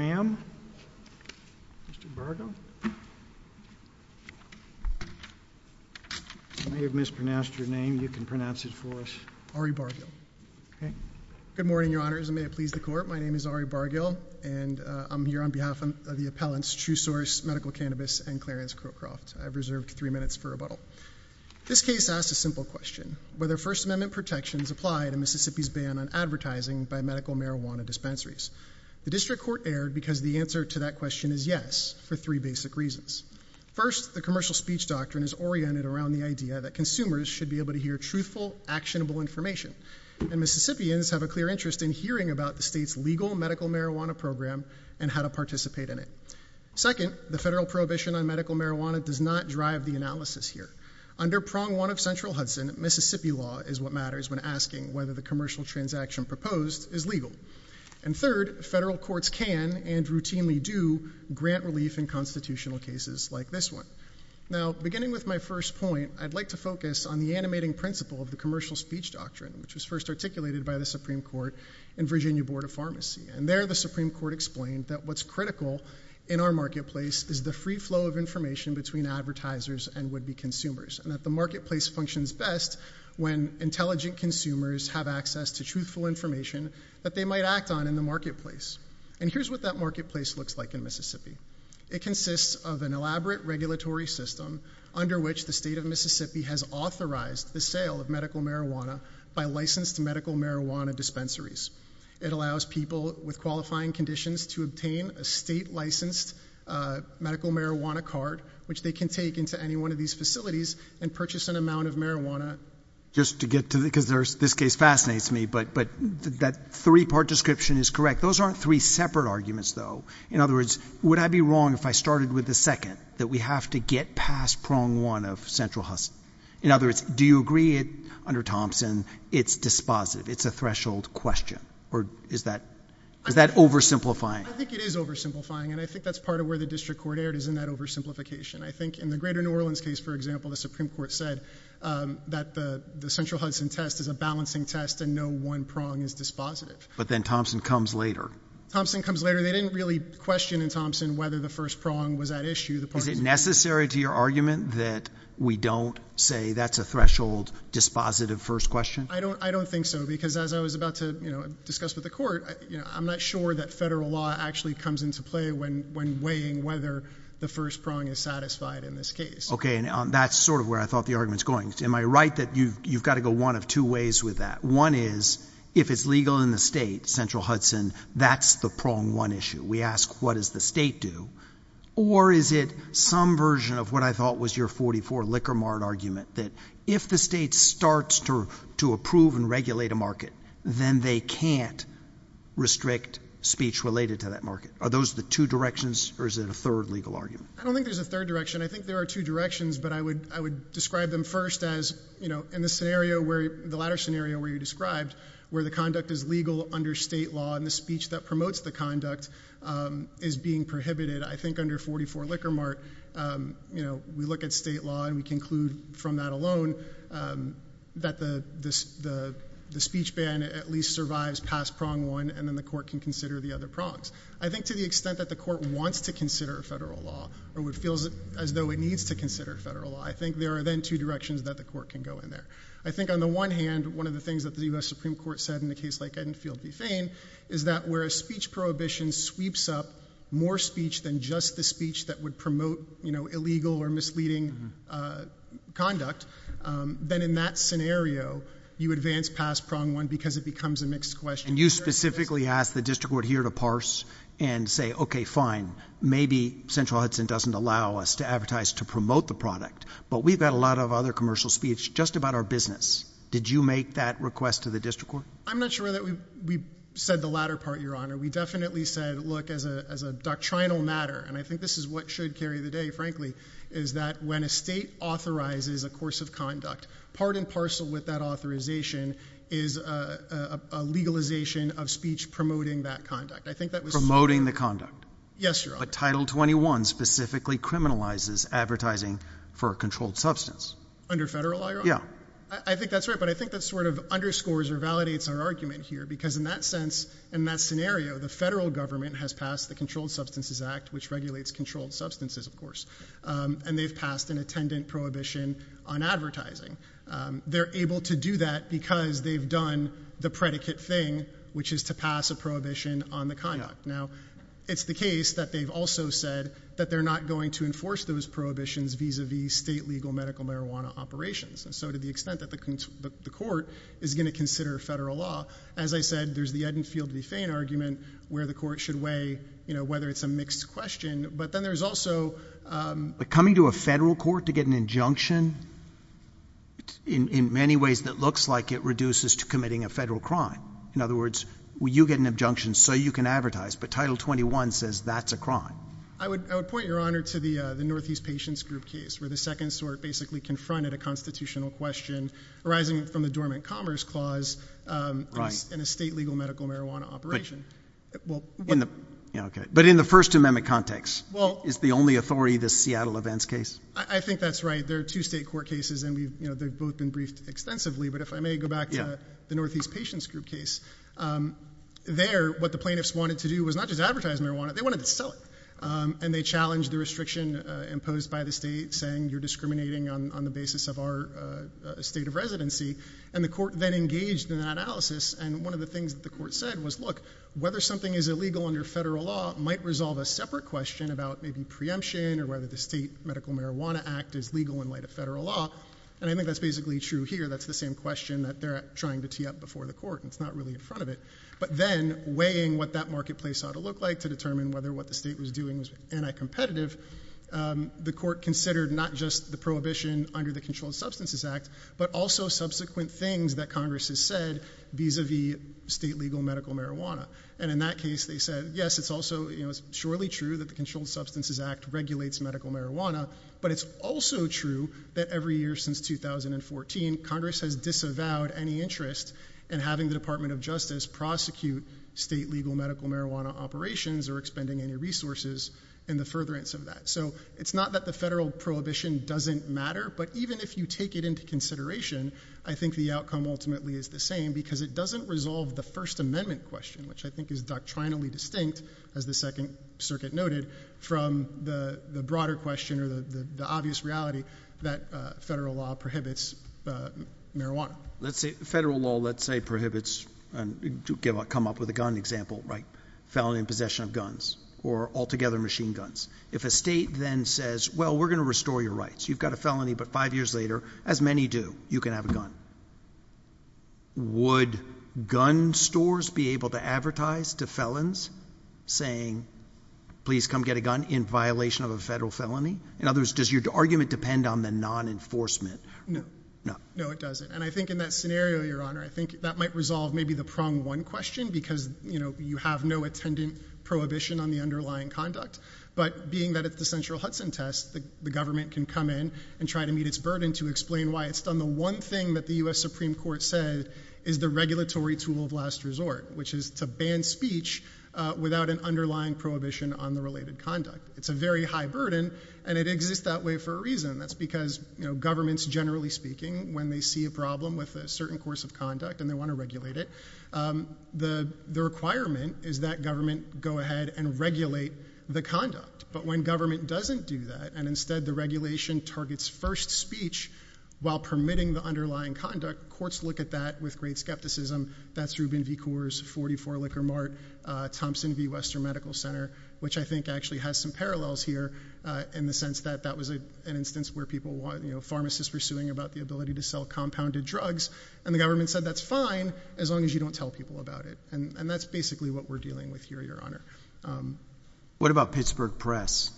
Mr. Bargill, you may have mispronounced your name, you can pronounce it for us. Ari Bargill. Good morning, your honors, and may it please the court, my name is Ari Bargill, and I'm here on behalf of the appellants True Source, Medical Cannabis, and Clarence Crowcroft. I've reserved three minutes for rebuttal. This case asks a simple question, whether First Amendment protections apply to Mississippi's ban on advertising by medical marijuana dispensaries. The district court erred because the answer to that question is yes, for three basic reasons. First, the commercial speech doctrine is oriented around the idea that consumers should be able to hear truthful, actionable information, and Mississippians have a clear interest in hearing about the state's legal medical marijuana program and how to participate in it. Second, the federal prohibition on medical marijuana does not drive the analysis here. Under prong one of central Hudson, Mississippi law is what matters when asking whether the commercial transaction proposed is legal. And third, federal courts can and routinely do grant relief in constitutional cases like this one. Now, beginning with my first point, I'd like to focus on the animating principle of the Virginia Board of Pharmacy. And there, the Supreme Court explained that what's critical in our marketplace is the free flow of information between advertisers and would-be consumers, and that the marketplace functions best when intelligent consumers have access to truthful information that they might act on in the marketplace. And here's what that marketplace looks like in Mississippi. It consists of an elaborate regulatory system under which the state of Mississippi has authorized the sale of medical marijuana by licensed medical marijuana dispensaries. It allows people with qualifying conditions to obtain a state-licensed medical marijuana card which they can take into any one of these facilities and purchase an amount of marijuana. Just to get to the, because this case fascinates me, but that three-part description is correct. Those aren't three separate arguments, though. In other words, would I be wrong if I started with the second, that we have to get past prong one of central Hudson? In other words, do you agree under Thompson, it's dispositive, it's a threshold question, or is that oversimplifying? I think it is oversimplifying, and I think that's part of where the district court erred is in that oversimplification. I think in the greater New Orleans case, for example, the Supreme Court said that the central Hudson test is a balancing test and no one prong is dispositive. But then Thompson comes later. Thompson comes later. They didn't really question in Thompson whether the first prong was at issue. Is it necessary to your argument that we don't say that's a threshold, dispositive first question? I don't think so, because as I was about to discuss with the court, I'm not sure that federal law actually comes into play when weighing whether the first prong is satisfied in this case. Okay. That's sort of where I thought the argument's going. Am I right that you've got to go one of two ways with that? One is, if it's legal in the state, central Hudson, that's the prong one issue. We ask, what does the state do? Or is it some version of what I thought was your 44 Liquor Mart argument, that if the state starts to approve and regulate a market, then they can't restrict speech related to that market? Are those the two directions, or is it a third legal argument? I don't think there's a third direction. I think there are two directions, but I would describe them first as, in the latter scenario where you described, where the conduct is legal under state law and the speech that promotes the conduct is being prohibited. I think under 44 Liquor Mart, you know, we look at state law and we conclude from that alone that the speech ban at least survives past prong one, and then the court can consider the other prongs. I think to the extent that the court wants to consider federal law, or it feels as though it needs to consider federal law, I think there are then two directions that the court can go in there. I think on the one hand, one of the things that the U.S. Supreme Court said in a case like Ed and Field v. Fane, is that where a speech prohibition sweeps up more speech than just the speech that would promote, you know, illegal or misleading conduct, then in that scenario, you advance past prong one because it becomes a mixed question. And you specifically ask the district court here to parse and say, okay, fine, maybe Central Hudson doesn't allow us to advertise to promote the product, but we've got a lot of other commercial speech just about our business. Did you make that request to the district court? I'm not sure that we said the latter part, Your Honor. We definitely said, look, as a doctrinal matter, and I think this is what should carry the day, frankly, is that when a state authorizes a course of conduct, part and parcel with that authorization is a legalization of speech promoting that conduct. I think that was... Promoting the conduct. Yes, Your Honor. But Title 21 specifically criminalizes advertising for a controlled substance. Under federal law, Your Honor? Yeah. I think that's right, but I think that sort of underscores or validates our argument here because in that sense, in that scenario, the federal government has passed the Controlled Substances Act, which regulates controlled substances, of course, and they've passed an attendant prohibition on advertising. They're able to do that because they've done the predicate thing, which is to pass a prohibition on the conduct. Now, it's the case that they've also said that they're not going to enforce those prohibitions vis-a-vis state legal medical marijuana operations, and so to the extent that the court is going to consider federal law, as I said, there's the Ed and Field v. Fain argument where the court should weigh whether it's a mixed question, but then there's also... Coming to a federal court to get an injunction, in many ways, that looks like it reduces to committing a federal crime. In other words, you get an injunction so you can advertise, but Title 21 says that's a I would point, Your Honor, to the Northeast Patients Group case where the second sort basically confronted a constitutional question arising from the Dormant Commerce Clause in a state legal medical marijuana operation. But in the First Amendment context, is the only authority the Seattle events case? I think that's right. There are two state court cases and they've both been briefed extensively, but if I may go back to the Northeast Patients Group case, there, what the plaintiffs wanted to do was not just advertise marijuana, they wanted to sell it. And they challenged the restriction imposed by the state saying you're discriminating on the basis of our state of residency, and the court then engaged in an analysis, and one of the things that the court said was, look, whether something is illegal under federal law might resolve a separate question about maybe preemption or whether the state medical marijuana act is legal in light of federal law, and I think that's basically true here. That's the same question that they're trying to tee up before the court, and it's not really in front of it, but then weighing what that marketplace ought to look like to determine whether what the state was doing was anti-competitive, the court considered not just the prohibition under the Controlled Substances Act, but also subsequent things that Congress has said vis-a-vis state legal medical marijuana. And in that case, they said, yes, it's also surely true that the Controlled Substances Act regulates medical marijuana, but it's also true that every year since 2014, Congress has disavowed any interest in having the Department of Justice prosecute state legal medical marijuana operations or expending any resources in the furtherance of that. So it's not that the federal prohibition doesn't matter, but even if you take it into consideration, I think the outcome ultimately is the same because it doesn't resolve the First Amendment question, which I think is doctrinally distinct, as the Second Circuit noted, from the broader question or the obvious reality that federal law prohibits marijuana. Federal law, let's say, prohibits, to come up with a gun example, felony in possession of guns or altogether machine guns. If a state then says, well, we're going to restore your rights, you've got a felony, but five years later, as many do, you can have a gun, would gun stores be able to advertise to felons saying, please come get a gun in violation of a federal felony? In other words, does your argument depend on the non-enforcement? No. No. No, it doesn't. And I think in that scenario, Your Honor, I think that might resolve maybe the prong one question because you have no attendant prohibition on the underlying conduct. But being that it's the central Hudson test, the government can come in and try to meet its burden to explain why it's done the one thing that the U.S. Supreme Court said is the regulatory tool of last resort, which is to ban speech without an underlying prohibition on the related conduct. It's a very high burden, and it exists that way for a reason. That's because governments, generally speaking, when they see a problem with a certain course of conduct and they want to regulate it, the requirement is that government go ahead and regulate the conduct. But when government doesn't do that, and instead the regulation targets first speech while permitting the underlying conduct, courts look at that with great skepticism. That's Rubin v. Coors, 44 Liquor Mart, Thompson v. Western Medical Center, which I think actually has some parallels here in the sense that that was an instance where pharmacists were suing about the ability to sell compounded drugs, and the government said that's fine as long as you don't tell people about it. And that's basically what we're dealing with here, Your Honor. What about Pittsburgh Press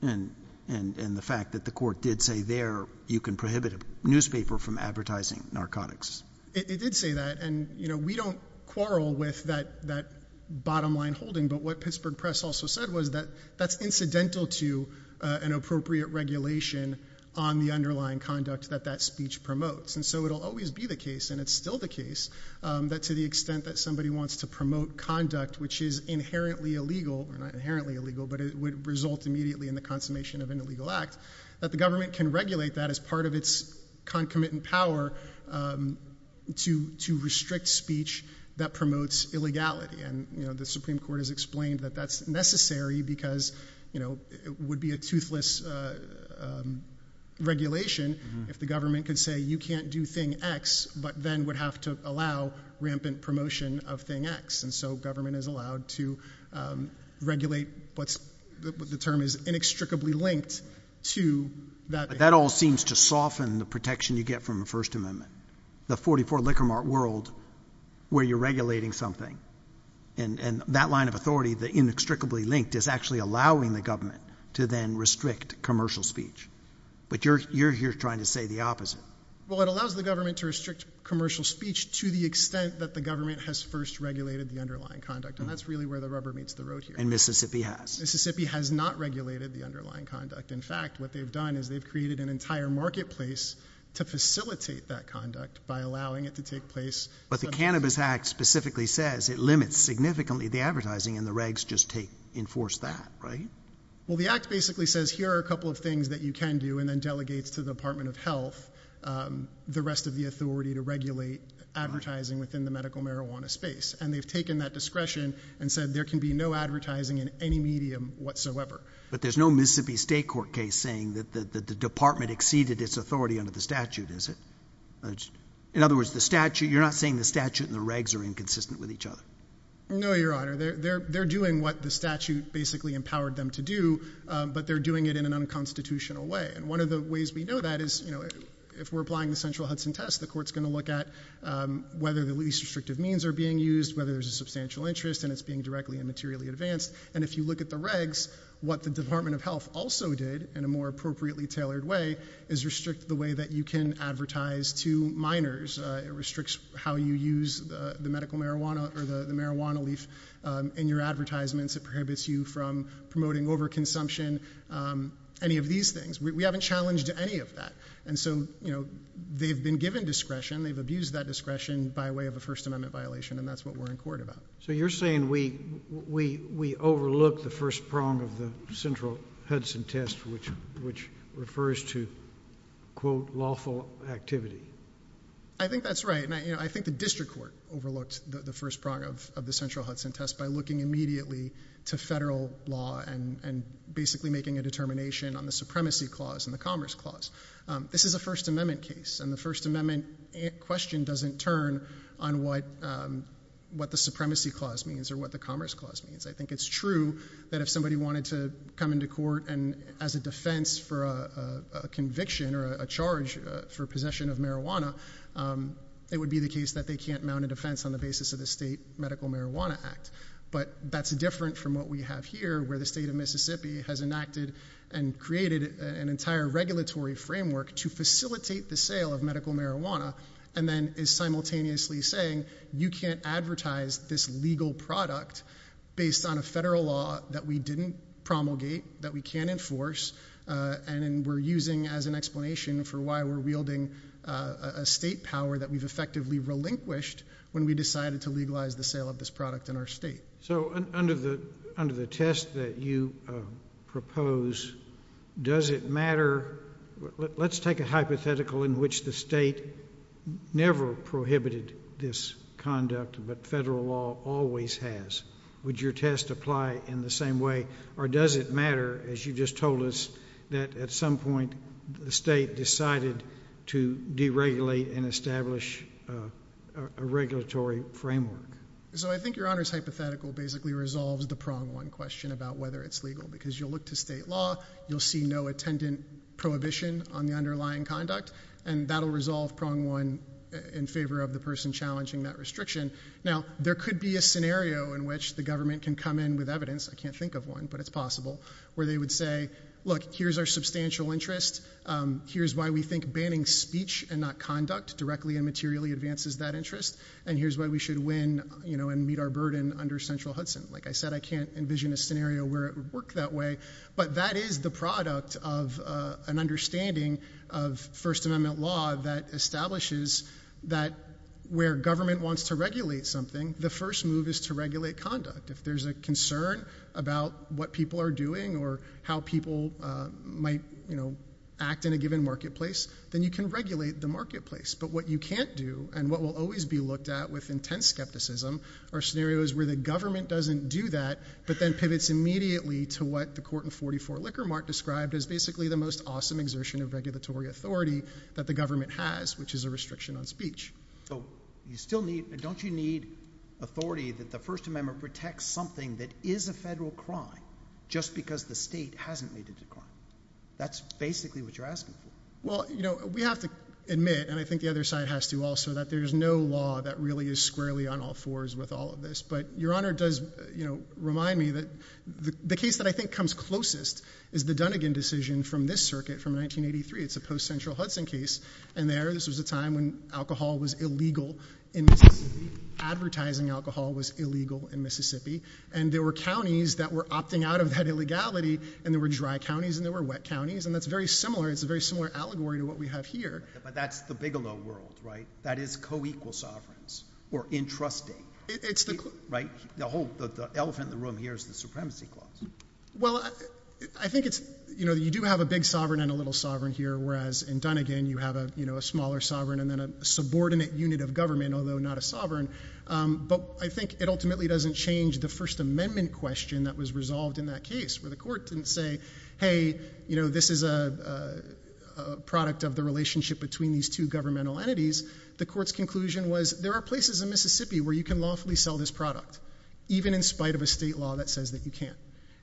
and the fact that the court did say there you can prohibit a consumer from advertising narcotics? It did say that, and we don't quarrel with that bottom line holding, but what Pittsburgh Press also said was that that's incidental to an appropriate regulation on the underlying conduct that that speech promotes. And so it'll always be the case, and it's still the case, that to the extent that somebody wants to promote conduct which is inherently illegal, or not inherently illegal, but it would result immediately in the consummation of an illegal act, that the government can regulate that as part of its concomitant power to restrict speech that promotes illegality. And, you know, the Supreme Court has explained that that's necessary because, you know, it would be a toothless regulation if the government could say you can't do thing X, but then would have to allow rampant promotion of thing X. And so government is allowed to regulate what the term is inextricably linked to that. But that all seems to soften the protection you get from the First Amendment. The 44-licker mark world where you're regulating something, and that line of authority, the inextricably linked, is actually allowing the government to then restrict commercial speech. But you're here trying to say the opposite. Well, it allows the government to restrict commercial speech to the extent that the government has first regulated the underlying conduct, and that's really where the rubber meets the road here. And Mississippi has. Mississippi has not regulated the underlying conduct. In fact, what they've done is they've created an entire marketplace to facilitate that conduct by allowing it to take place. But the Cannabis Act specifically says it limits significantly the advertising and the regs just take, enforce that, right? Well, the act basically says here are a couple of things that you can do and then delegates to the Department of Health the rest of the authority to regulate advertising within the medical marijuana space. And they've taken that discretion and said there can be no advertising in any medium whatsoever. But there's no Mississippi State Court case saying that the department exceeded its authority under the statute, is it? In other words, the statute, you're not saying the statute and the regs are inconsistent with each other? No, Your Honor. They're doing what the statute basically empowered them to do, but they're doing it in an unconstitutional way. And one of the ways we know that is, you know, if we're applying the central Hudson test, the court's going to look at whether the least restrictive means are being used, whether there's a substantial interest, and it's being directly and materially advanced. And if you look at the regs, what the Department of Health also did, in a more appropriately tailored way, is restrict the way that you can advertise to minors. It restricts how you use the medical marijuana or the marijuana leaf in your advertisements. It prohibits you from promoting overconsumption, any of these things. We haven't challenged any of that. And so, you know, they've been given discretion, they've abused that discretion by way of a First Amendment violation, and that's what we're in court about. So you're saying we overlooked the first prong of the central Hudson test, which refers to, quote, lawful activity? I think that's right. And I think the district court overlooked the first prong of the central Hudson test by looking immediately to federal law and basically making a determination on the supremacy clause and the commerce clause. This is a First Amendment case, and the First Amendment question doesn't turn on what the supremacy clause means or what the commerce clause means. I think it's true that if somebody wanted to come into court as a defense for a conviction or a charge for possession of marijuana, it would be the case that they can't mount a defense on the basis of the state medical marijuana act. But that's different from what we have here, where the state of Mississippi has enacted and created an entire regulatory framework to facilitate the sale of medical marijuana and then is simultaneously saying you can't advertise this legal product based on a federal law that we didn't promulgate, that we can't enforce, and we're using as an explanation for why we're wielding a state power that we've effectively relinquished when we decided to legalize the sale of this product in our state. So under the test that you propose, does it matter? Let's take a hypothetical in which the state never prohibited this conduct, but federal law always has. Would your test apply in the same way, or does it matter, as you just told us, that at some point the state decided to deregulate and establish a regulatory framework? So I think Your Honor's hypothetical basically resolves the prong one question about whether it's legal, because you'll look to state law, you'll see no attendant prohibition on the underlying conduct, and that'll resolve prong one in favor of the person challenging that restriction. Now, there could be a scenario in which the government can come in with evidence, I can't think of one, but it's possible, where they would say, look, here's our substantial interest, here's why we think banning speech and not conduct directly and materially advances that interest, and here's why we should win and meet our burden under central Hudson. Like I said, I can't envision a scenario where it would work that way, but that is the product of an understanding of First Amendment law that establishes that where government wants to regulate something, the first move is to regulate conduct. If there's a concern about what people are doing or how people might, you know, act in a given marketplace, then you can regulate the marketplace. But what you can't do and what will always be looked at with intense skepticism are scenarios where the government doesn't do that, but then pivots immediately to what the court in 44 Lickermark described as basically the most awesome exertion of regulatory authority that the government has, which is a restriction on speech. So you still need, don't you need authority that the First Amendment protects something that is a federal crime, just because the state hasn't made it a crime? That's basically what you're asking for. Well, you know, we have to admit, and I think the other side has to also, that there's no law that really is squarely on all fours with all of this. But Your Honor does, you know, remind me that the case that I think comes closest is the Dunnigan decision from this circuit from 1983. It's a post-Central Hudson case. And there, this was a time when alcohol was illegal in Mississippi, advertising alcohol was illegal in Mississippi. And there were counties that were opting out of that illegality, and there were dry counties and there were wet counties. And that's very similar. It's a very similar allegory to what we have here. But that's the Bigelow world, right? That is co-equal sovereigns, or entrusting, right? The elephant in the room here is the supremacy clause. Well, I think it's, you know, you do have a big sovereign and a little sovereign here, whereas in Dunnigan you have, you know, a smaller sovereign and then a subordinate unit of government, although not a sovereign. But I think it ultimately doesn't change the First Amendment question that was resolved in that case, where the court didn't say, hey, you know, this is a product of the relationship between these two governmental entities. The court's conclusion was, there are places in Mississippi where you can lawfully sell this product, even in spite of a state law that says that you can't.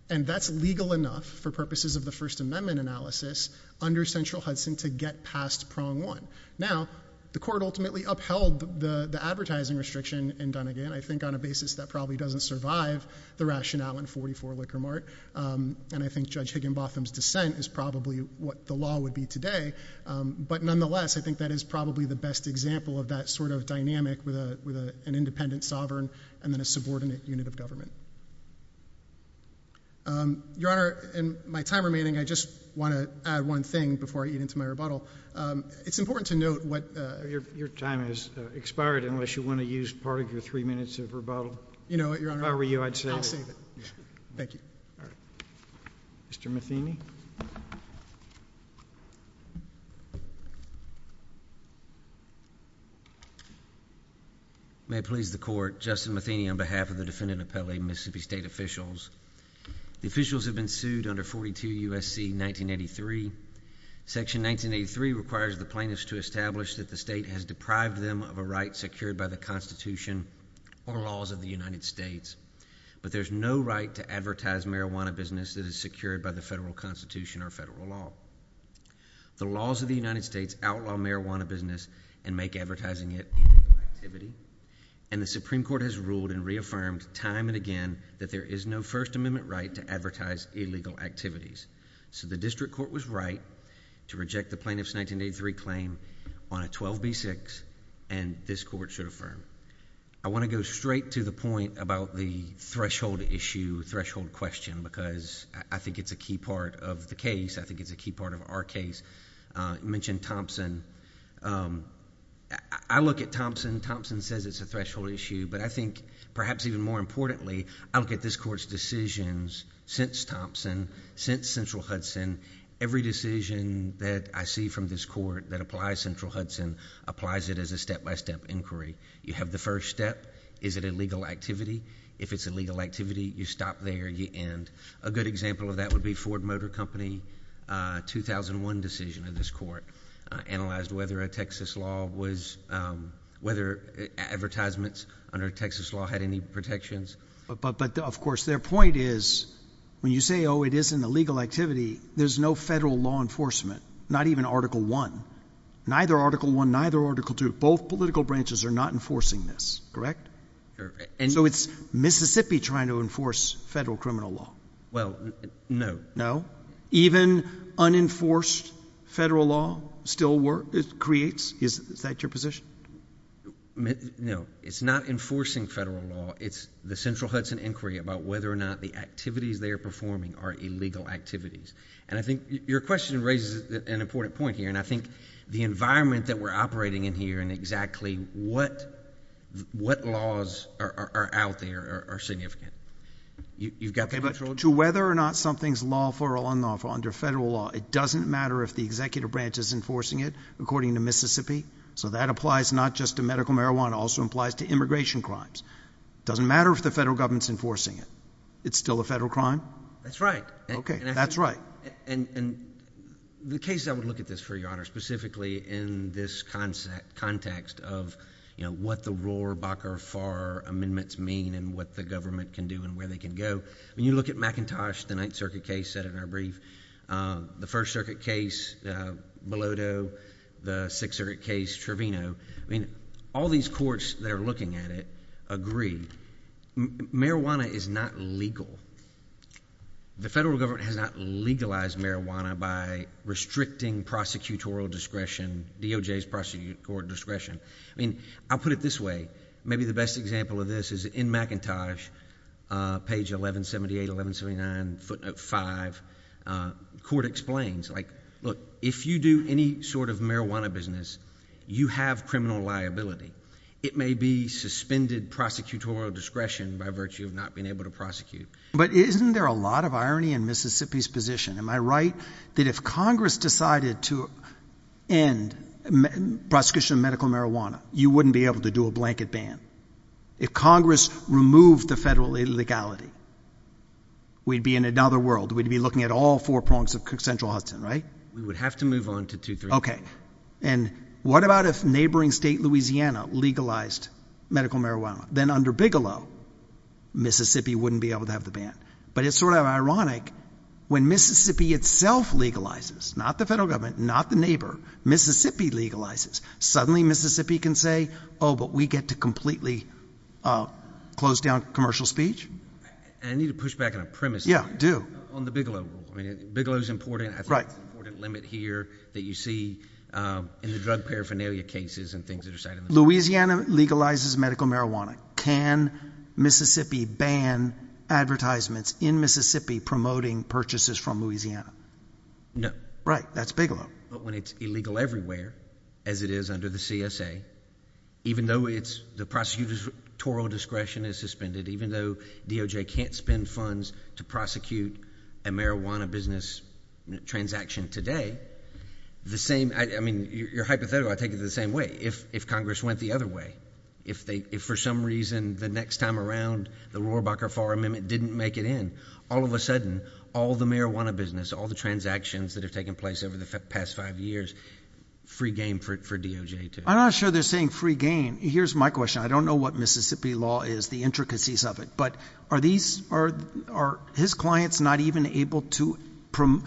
And that's legal enough for purposes of the First Amendment analysis under Central Hudson to get past prong one. Now, the court ultimately upheld the advertising restriction in Dunnigan, I think on a basis that probably doesn't survive the rationale in 44 Liquor Mart, and I think Judge Higginbotham's dissent is probably what the law would be today. But nonetheless, I think that is probably the best example of that sort of dynamic with an independent sovereign and then a subordinate unit of government. Your Honor, in my time remaining, I just want to add one thing before I eat into my rebuttal. It's important to note what... Your time has expired unless you want to use part of your three minutes of rebuttal. You know what, Your Honor? If I were you, I'd save it. I'll save it. Thank you. All right. Mr. Matheny? May it please the Court, Justin Matheny on behalf of the Defendant Appellee and Mississippi State Officials. The officials have been sued under 42 U.S.C. 1983. Section 1983 requires the plaintiffs to establish that the state has deprived them of a right secured by the Constitution or laws of the United States, but there's no right to advertise a marijuana business that is secured by the federal Constitution or federal law. The laws of the United States outlaw marijuana business and make advertising it illegal activity, and the Supreme Court has ruled and reaffirmed time and again that there is no First Amendment right to advertise illegal activities. So the District Court was right to reject the plaintiff's 1983 claim on a 12b6, and this Court should affirm. I want to go straight to the point about the threshold issue, threshold question, because I think it's a key part of the case. I think it's a key part of our case. You mentioned Thompson. I look at Thompson. Thompson says it's a threshold issue, but I think perhaps even more importantly, I look at this Court's decisions since Thompson, since Central Hudson. Every decision that I see from this Court that applies Central Hudson applies it as a step-by-step inquiry. You have the first step. Is it illegal activity? If it's illegal activity, you stop there and you end. A good example of that would be Ford Motor Company 2001 decision in this Court analyzed whether a Texas law was, whether advertisements under Texas law had any protections. But of course, their point is, when you say, oh, it is an illegal activity, there's no federal law enforcement, not even Article I, neither Article I, neither Article II. Both political branches are not enforcing this, correct? So it's Mississippi trying to enforce federal criminal law. Well, no. No? Even unenforced federal law still creates? Is that your position? No. It's not enforcing federal law. It's the Central Hudson inquiry about whether or not the activities they are performing are illegal activities. And I think your question raises an important point here, and I think the environment that we're operating in here and exactly what laws are out there are significant. You've got the control? To whether or not something's lawful or unlawful under federal law, it doesn't matter if the executive branch is enforcing it, according to Mississippi. So that applies not just to medical marijuana, it also applies to immigration crimes. Doesn't matter if the federal government's enforcing it. It's still a federal crime? That's right. Okay. That's right. And the cases I would look at this for, Your Honor, specifically in this context of what the Rohr-Bakker-Farr amendments mean and what the government can do and where they can go. I mean, you look at McIntosh, the Ninth Circuit case said in our brief, the First Circuit case, Bilodeau, the Sixth Circuit case, Trevino, I mean, all these courts that are looking at it agree. Marijuana is not legal. The federal government has not legalized marijuana by restricting prosecutorial discretion, DOJ's prosecutorial discretion. I mean, I'll put it this way. Maybe the best example of this is in McIntosh, page 1178, 1179, footnote 5, court explains, like, look, if you do any sort of marijuana business, you have criminal liability. It may be suspended prosecutorial discretion by virtue of not being able to prosecute. But isn't there a lot of irony in Mississippi's position? Am I right that if Congress decided to end prosecution of medical marijuana, you wouldn't be able to do a blanket ban? If Congress removed the federal legality, we'd be in another world. We'd be looking at all four prongs of central Hudson, right? We would have to move on to 239. Okay. And what about if neighboring state Louisiana legalized medical marijuana? Then under Bigelow, Mississippi wouldn't be able to have the ban. But it's sort of ironic when Mississippi itself legalizes, not the federal government, not the neighbor, Mississippi legalizes. Suddenly Mississippi can say, oh, but we get to completely close down commercial speech. And I need to push back on a premise. Yeah, do. On the Bigelow rule. I mean, Bigelow's important. Right. That's an important limit here that you see in the drug paraphernalia cases and things that are cited. Louisiana legalizes medical marijuana. Can Mississippi ban advertisements in Mississippi promoting purchases from Louisiana? No. Right. That's Bigelow. But when it's illegal everywhere, as it is under the CSA, even though it's the prosecutor's tora discretion is suspended, even though DOJ can't spend funds to prosecute a marijuana business transaction today, the same, I mean, your hypothetical, I take it the same way. If, if Congress went the other way, if they, if for some reason the next time around the Rohrabacher fall amendment didn't make it in all of a sudden, all the marijuana business, all the transactions that have taken place over the past five years, free game for, for DOJ to. I'm not sure they're saying free game. Here's my question. I don't know what Mississippi law is, the intricacies of it, but are these, are, are his clients not even able to promote,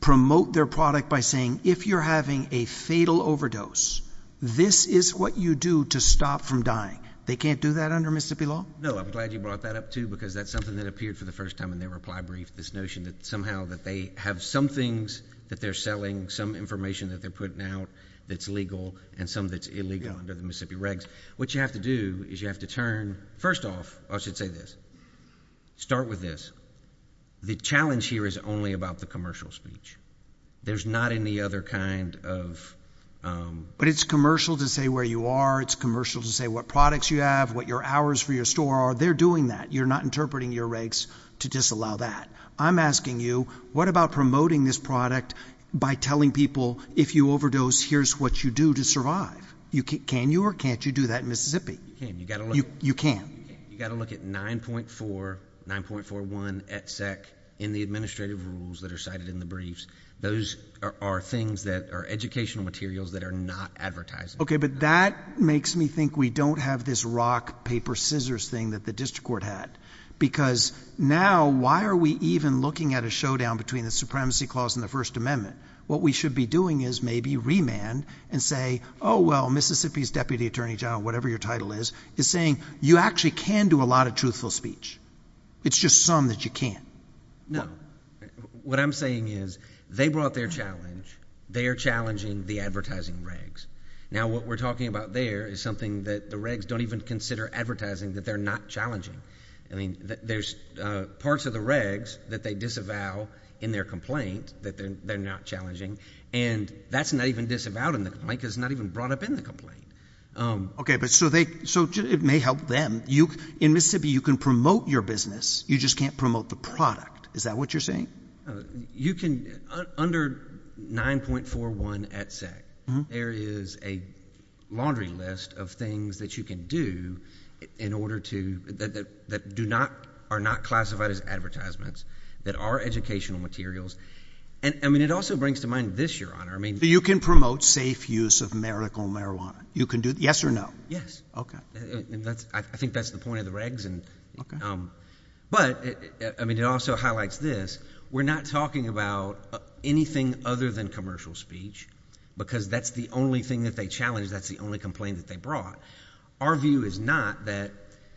promote their product by saying, if you're having a fatal overdose, this is what you do to stop from dying. They can't do that under Mississippi law. No, I'm glad you brought that up too, because that's something that appeared for the first time in their reply brief. This notion that somehow that they have some things that they're selling, some information that they're putting out that's legal and some that's illegal under the Mississippi regs, what you have to do is you have to turn first off, I should say this. Start with this. The challenge here is only about the commercial speech. There's not any other kind of, um. But it's commercial to say where you are. It's commercial to say what products you have, what your hours for your store are. They're doing that. You're not interpreting your regs to disallow that. I'm asking you, what about promoting this product by telling people, if you overdose, here's what you do to survive. You can, can you, or can't you do that in Mississippi? You can. You gotta look. You can. You gotta look at 9.4, 9.41 et sec in the administrative rules that are cited in the briefs. Those are, are things that are educational materials that are not advertising. Okay, but that makes me think we don't have this rock, paper, scissors thing that the district court had. Because now, why are we even looking at a showdown between the supremacy clause and the first amendment? What we should be doing is maybe remand and say, oh well, Mississippi's Deputy Attorney General, whatever your title is, is saying you actually can do a lot of truthful speech. It's just some that you can't. No. What I'm saying is, they brought their challenge, they're challenging the advertising regs. Now what we're talking about there is something that the regs don't even consider advertising that they're not challenging. I mean, there's parts of the regs that they disavow in their complaint that they're, they're not challenging. And that's not even disavowed in the complaint because it's not even brought up in the complaint. Okay, but so they, so it may help them. You, in Mississippi, you can promote your business, you just can't promote the product. Is that what you're saying? You can, under 9.41 at sec, there is a laundry list of things that you can do in order to, that do not, are not classified as advertisements, that are educational materials. And, I mean, it also brings to mind this, Your Honor, I mean. You can promote safe use of marital marijuana. You can do, yes or no? Yes. Okay. And that's, I think that's the point of the regs. Okay. And, but, I mean, it also highlights this. We're not talking about anything other than commercial speech because that's the only thing that they challenged, that's the only complaint that they brought. Our view is not that,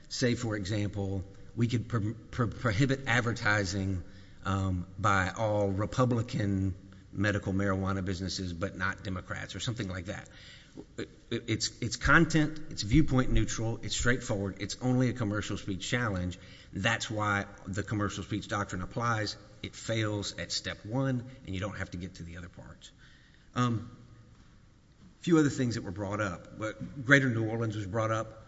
say, for example, we could prohibit advertising by all Republican medical marijuana businesses but not Democrats or something like that. It's content. It's viewpoint neutral. It's straightforward. It's only a commercial speech challenge. That's why the commercial speech doctrine applies. It fails at step one and you don't have to get to the other parts. A few other things that were brought up. Greater New Orleans was brought up.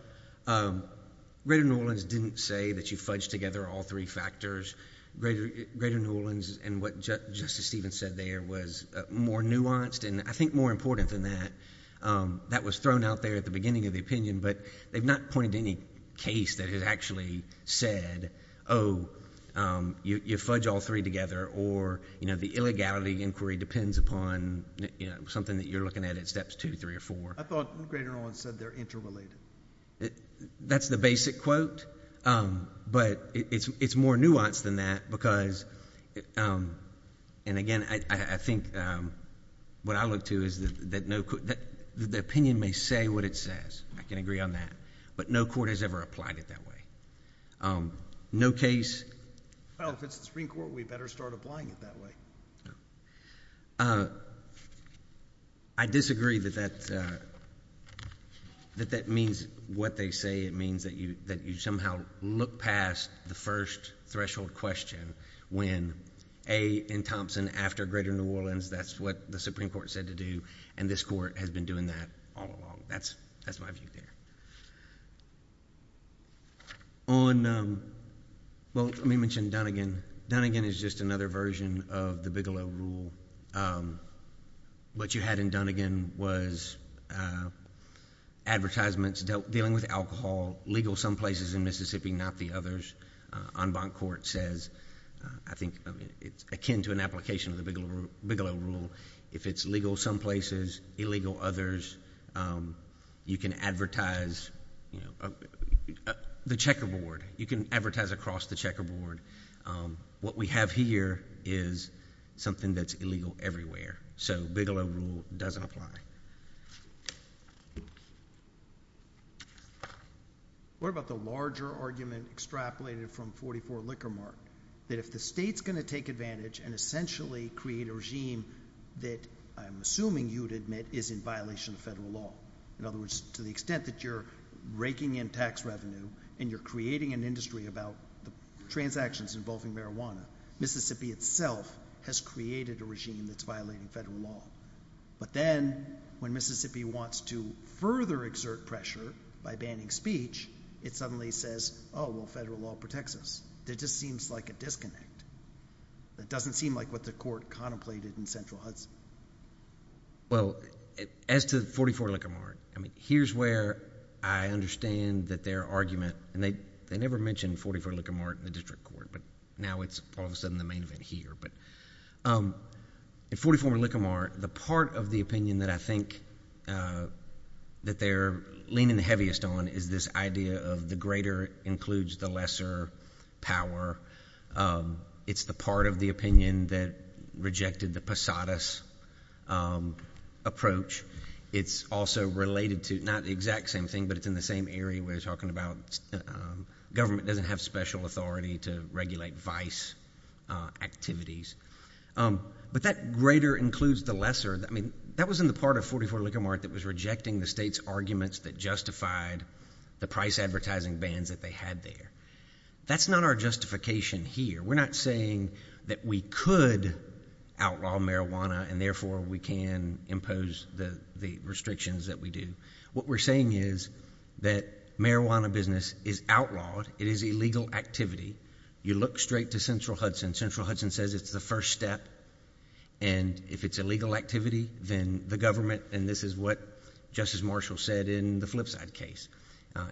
Greater New Orleans didn't say that you fudge together all three factors. Greater New Orleans and what Justice Stevens said there was more nuanced and I think more important than that. That was thrown out there at the beginning of the opinion but they've not pointed to any case that has actually said, oh, you fudge all three together or, you know, the illegality inquiry depends upon something that you're looking at at steps two, three, or four. I thought Greater New Orleans said they're interrelated. That's the basic quote but it's more nuanced than that because, and again, I think what I look to is that the opinion may say what it says. I can agree on that but no court has ever applied it that way. No case... Well, if it's the Supreme Court, we better start applying it that way. I disagree that that means what they say. It means that you somehow look past the first threshold question when A, in Thompson, after Greater New Orleans, that's what the Supreme Court said to do and this court has been doing that all along. That's my view there. On... well, let me mention Dunnigan. Dunnigan is just another version of the Bigelow Rule. What you had in Dunnigan was advertisements dealing with alcohol, legal some places in Mississippi, not the others. En banc court says, I think it's akin to an application of the Bigelow Rule, if it's legal some places, illegal others. You can advertise the checkerboard. You can advertise across the checkerboard. What we have here is something that's illegal everywhere. So Bigelow Rule doesn't apply. What about the larger argument extrapolated from 44 Liquor Mart, that if the state's essentially create a regime that I'm assuming you'd admit is in violation of federal law. In other words, to the extent that you're raking in tax revenue and you're creating an industry about the transactions involving marijuana, Mississippi itself has created a regime that's violating federal law. But then when Mississippi wants to further exert pressure by banning speech, it suddenly says, oh, well, federal law protects us. It just seems like a disconnect. It doesn't seem like what the court contemplated in Central Hudson. Well, as to 44 Liquor Mart, here's where I understand that their argument, and they never mentioned 44 Liquor Mart in the district court, but now it's all of a sudden the main event here. In 44 Liquor Mart, the part of the opinion that I think that they're leaning the heaviest on is this idea of the greater includes the lesser power. It's the part of the opinion that rejected the Posadas approach. It's also related to not the exact same thing, but it's in the same area where they're talking about government doesn't have special authority to regulate vice activities. But that greater includes the lesser, I mean, that was in the part of 44 Liquor Mart that was rejecting the state's arguments that justified the price advertising bans that they had there. That's not our justification here. We're not saying that we could outlaw marijuana and therefore we can impose the restrictions that we do. What we're saying is that marijuana business is outlawed, it is illegal activity. You look straight to Central Hudson, Central Hudson says it's the first step, and if it's illegal activity, then the government, and this is what Justice Marshall said in the Flipside case,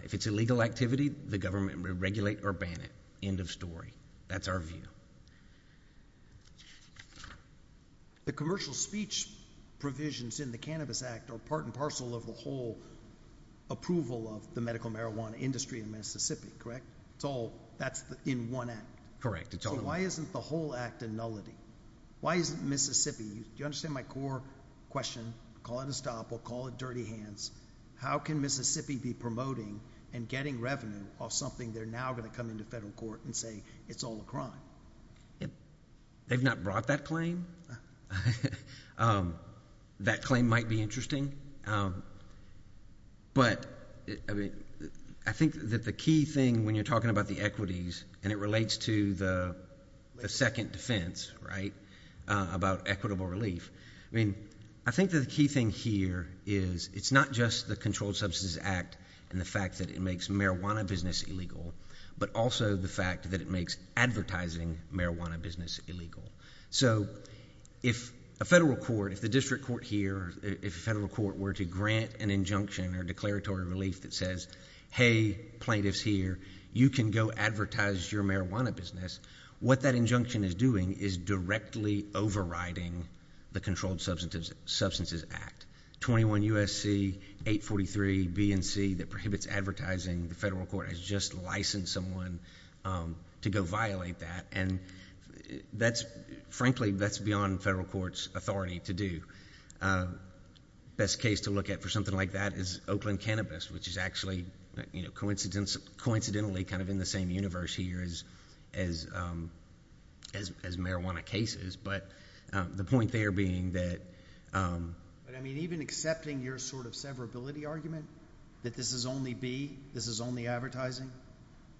if it's illegal activity, the government will regulate or ban it, end of story. That's our view. The commercial speech provisions in the Cannabis Act are part and parcel of the whole approval of the medical marijuana industry in Mississippi, correct? That's in one act. Correct, it's all one. So why isn't the whole act a nullity? Why isn't Mississippi? Do you understand my core question, call it a stop or call it dirty hands, how can Mississippi be promoting and getting revenue off something they're now going to come into federal court and say it's all a crime? They've not brought that claim. That claim might be interesting, but I think that the key thing when you're talking about the equities, and it relates to the second defense, right, about equitable relief, I think the key thing here is it's not just the Controlled Substances Act and the fact that it makes marijuana business illegal, but also the fact that it makes advertising marijuana business illegal. So if a federal court, if the district court here, if a federal court were to grant an injunction or declaratory relief that says, hey, plaintiff's here, you can go advertise your marijuana business, what that injunction is doing is directly overriding the Controlled Substances Act, 21 U.S.C. 843 BNC that prohibits advertising, the federal court has just licensed someone to go violate that, and frankly, that's beyond federal court's authority to do. The best case to look at for something like that is Oakland Cannabis, which is actually coincidentally kind of in the same universe here as marijuana cases, but the point there being that— But I mean, even accepting your sort of severability argument, that this is only B, this is only advertising,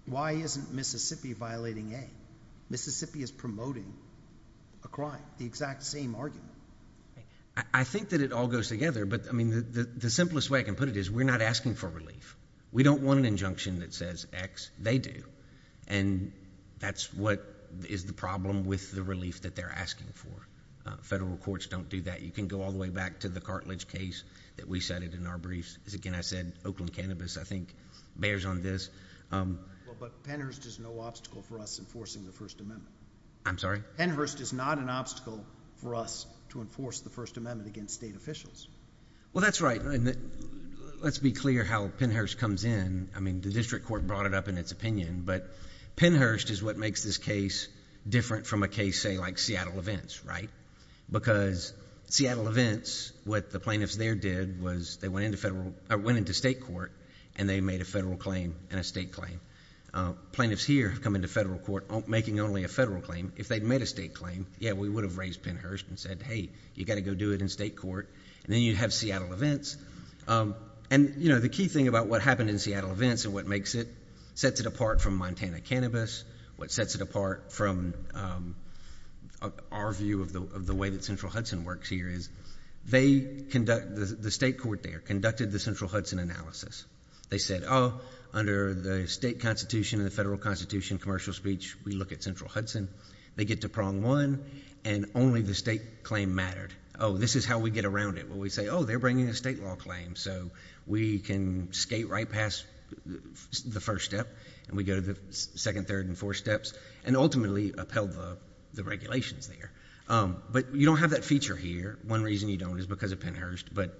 why isn't Mississippi violating A? Mississippi is promoting a crime, the exact same argument. I think that it all goes together, but I mean, the simplest way I can put it is we're not asking for relief. We don't want an injunction that says X. They do, and that's what is the problem with the relief that they're asking for. Federal courts don't do that. You can go all the way back to the cartilage case that we cited in our briefs. As again, I said, Oakland Cannabis, I think, bears on this. But Pennhurst is no obstacle for us enforcing the First Amendment. I'm sorry? Pennhurst is not an obstacle for us to enforce the First Amendment against state officials. Well, that's right. Let's be clear how Pennhurst comes in. I mean, the district court brought it up in its opinion, but Pennhurst is what makes this case different from a case, say, like Seattle Events, right? Because Seattle Events, what the plaintiffs there did was they went into state court, and they made a federal claim and a state claim. Plaintiffs here have come into federal court making only a federal claim. If they'd made a state claim, yeah, we would have raised Pennhurst and said, hey, you got to go do it in state court, and then you'd have Seattle Events. And the key thing about what happened in Seattle Events and what makes it, sets it apart from Montana Cannabis, what sets it apart from our view of the way that Central Hudson works here is the state court there conducted the Central Hudson analysis. They said, oh, under the state constitution and the federal constitution, commercial speech, we look at Central Hudson. They get to prong one, and only the state claim mattered. Oh, this is how we get around it, where we say, oh, they're bringing a state law claim, so we can skate right past the first step, and we go to the second, third, and fourth steps, and ultimately upheld the regulations there. But you don't have that feature here. One reason you don't is because of Pennhurst, but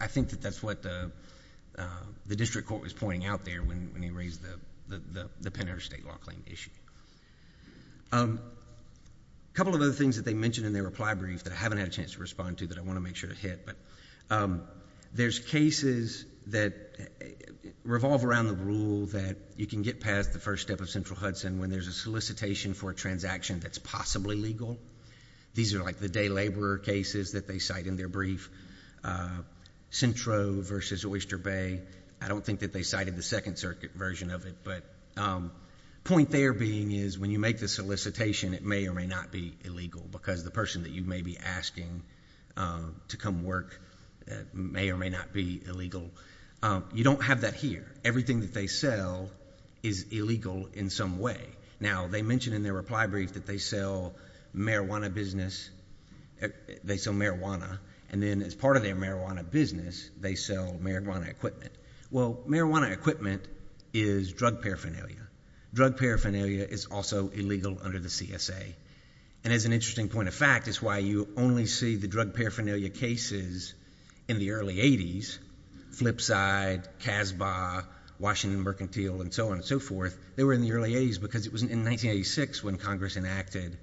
I think that that's what the district court was pointing out there when he raised the Pennhurst state law claim issue. A couple of other things that they mentioned in their reply brief that I haven't had a chance to respond to that I want to make sure to hit, but there's cases that revolve around the rule that you can get past the first step of Central Hudson when there's a solicitation for a transaction that's possibly legal. These are like the day laborer cases that they cite in their brief, Centro versus Oyster Bay. I don't think that they cited the Second Circuit version of it, but the point there being is when you make the solicitation, it may or may not be illegal because the person that you may be asking to come work may or may not be illegal. You don't have that here. Everything that they sell is illegal in some way. Now, they mentioned in their reply brief that they sell marijuana and then as part of their marijuana business, they sell marijuana equipment. Marijuana equipment is drug paraphernalia. Drug paraphernalia is also illegal under the CSA. As an interesting point of fact, it's why you only see the drug paraphernalia cases in the early 80s, Flipside, CASBA, Washington Mercantile, and so on and so forth. They were in the early 80s because it was in 1986 when Congress enacted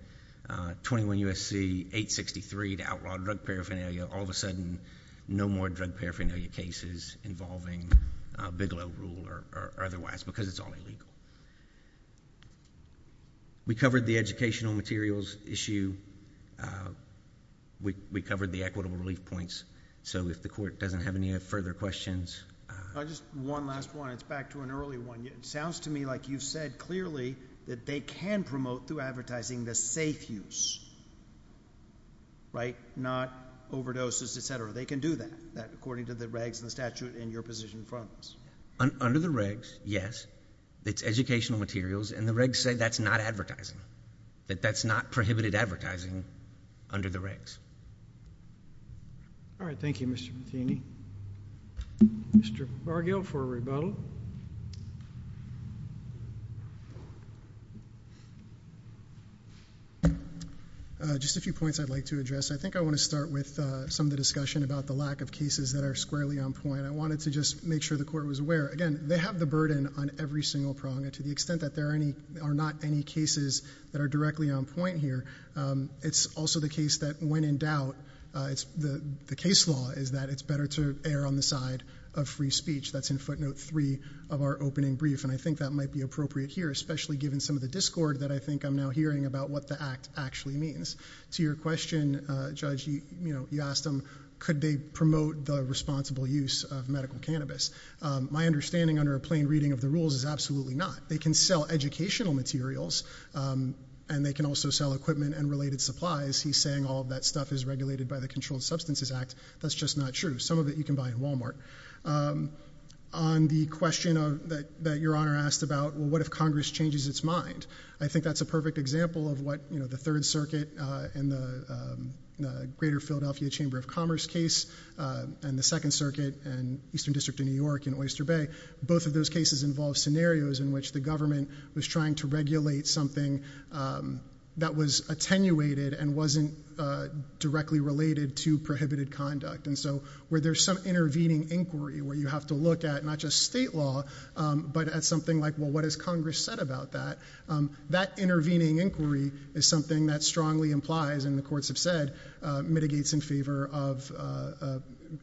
21 U.S.C. 863 to outlaw drug paraphernalia. All of a sudden, no more drug paraphernalia cases involving Bigelow Rule or otherwise because it's all illegal. We covered the educational materials issue. We covered the equitable relief points. So if the court doesn't have any further questions... Just one last one. It's back to an early one. It sounds to me like you've said clearly that they can promote through advertising the safe use, right? Not overdoses, et cetera. They can do that according to the regs and the statute in your position in front of us. Under the regs, yes. It's educational materials. And the regs say that's not advertising, that that's not prohibited advertising under the regs. All right. Thank you, Mr. Bethany. Mr. Bargill for rebuttal. Just a few points I'd like to address. I think I want to start with some of the discussion about the lack of cases that are squarely on point. I wanted to just make sure the court was aware. Again, they have the burden on every single prong. And to the extent that there are not any cases that are directly on point here, it's also the case that when in doubt, the case law is that it's better to err on the side of free speech. That's in footnote three of our opening brief. And I think that might be appropriate here, especially given some of the discord that I think I'm now hearing about what the act actually means. To your question, Judge, you asked them, could they promote the responsible use of medical cannabis? My understanding under a plain reading of the rules is absolutely not. They can sell educational materials, and they can also sell equipment and related supplies. He's saying all of that stuff is regulated by the Controlled Substances Act. That's just not true. Some of it you can buy at Walmart. On the question that your Honor asked about, well, what if Congress changes its mind? I think that's a perfect example of what the Third Circuit in the Greater Philadelphia Chamber of Commerce case, and the Second Circuit in Eastern District of New York in Oyster Bay. Both of those cases involve scenarios in which the government was trying to regulate something that was attenuated and wasn't directly related to prohibited conduct. And so where there's some intervening inquiry where you have to look at not just state law, but at something like, well, what has Congress said about that? That intervening inquiry is something that strongly implies, and the courts have said, mitigates in favor of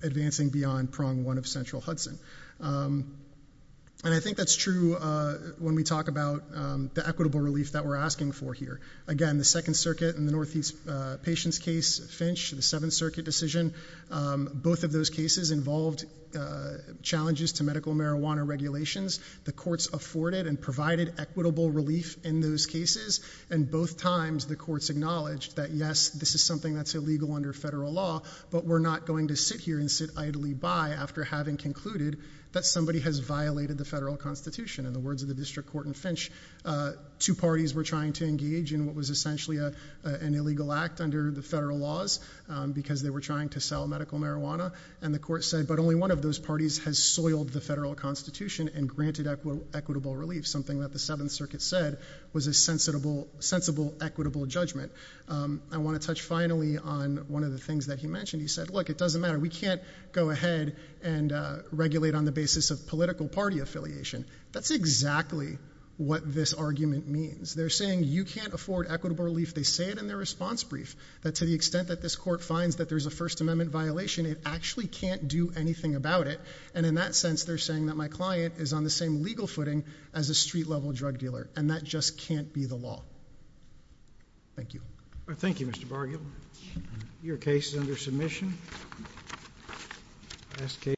advancing beyond prong one of central Hudson. And I think that's true when we talk about the equitable relief that we're asking for here. Again, the Second Circuit in the Northeast Patients case, Finch, the Seventh Circuit decision, both of those cases involved challenges to medical marijuana regulations. The courts afforded and provided equitable relief in those cases. And both times the courts acknowledged that yes, this is something that's illegal under federal law, but we're not going to sit here and sit idly by after having concluded that somebody has violated the federal constitution. In the words of the district court in Finch, two parties were trying to engage in what was essentially an illegal act under the federal laws. Because they were trying to sell medical marijuana. And the court said, but only one of those parties has soiled the federal constitution and granted equitable relief. Something that the Seventh Circuit said was a sensible equitable judgment. I want to touch finally on one of the things that he mentioned. He said, look, it doesn't matter, we can't go ahead and regulate on the basis of political party affiliation. That's exactly what this argument means. They're saying you can't afford equitable relief. They say it in their response brief. That to the extent that this court finds that there's a First Amendment violation, it actually can't do anything about it. And in that sense, they're saying that my client is on the same legal footing as a street level drug dealer. And that just can't be the law. Thank you. Thank you, Mr. Bargill. Your case is under submission. Last case.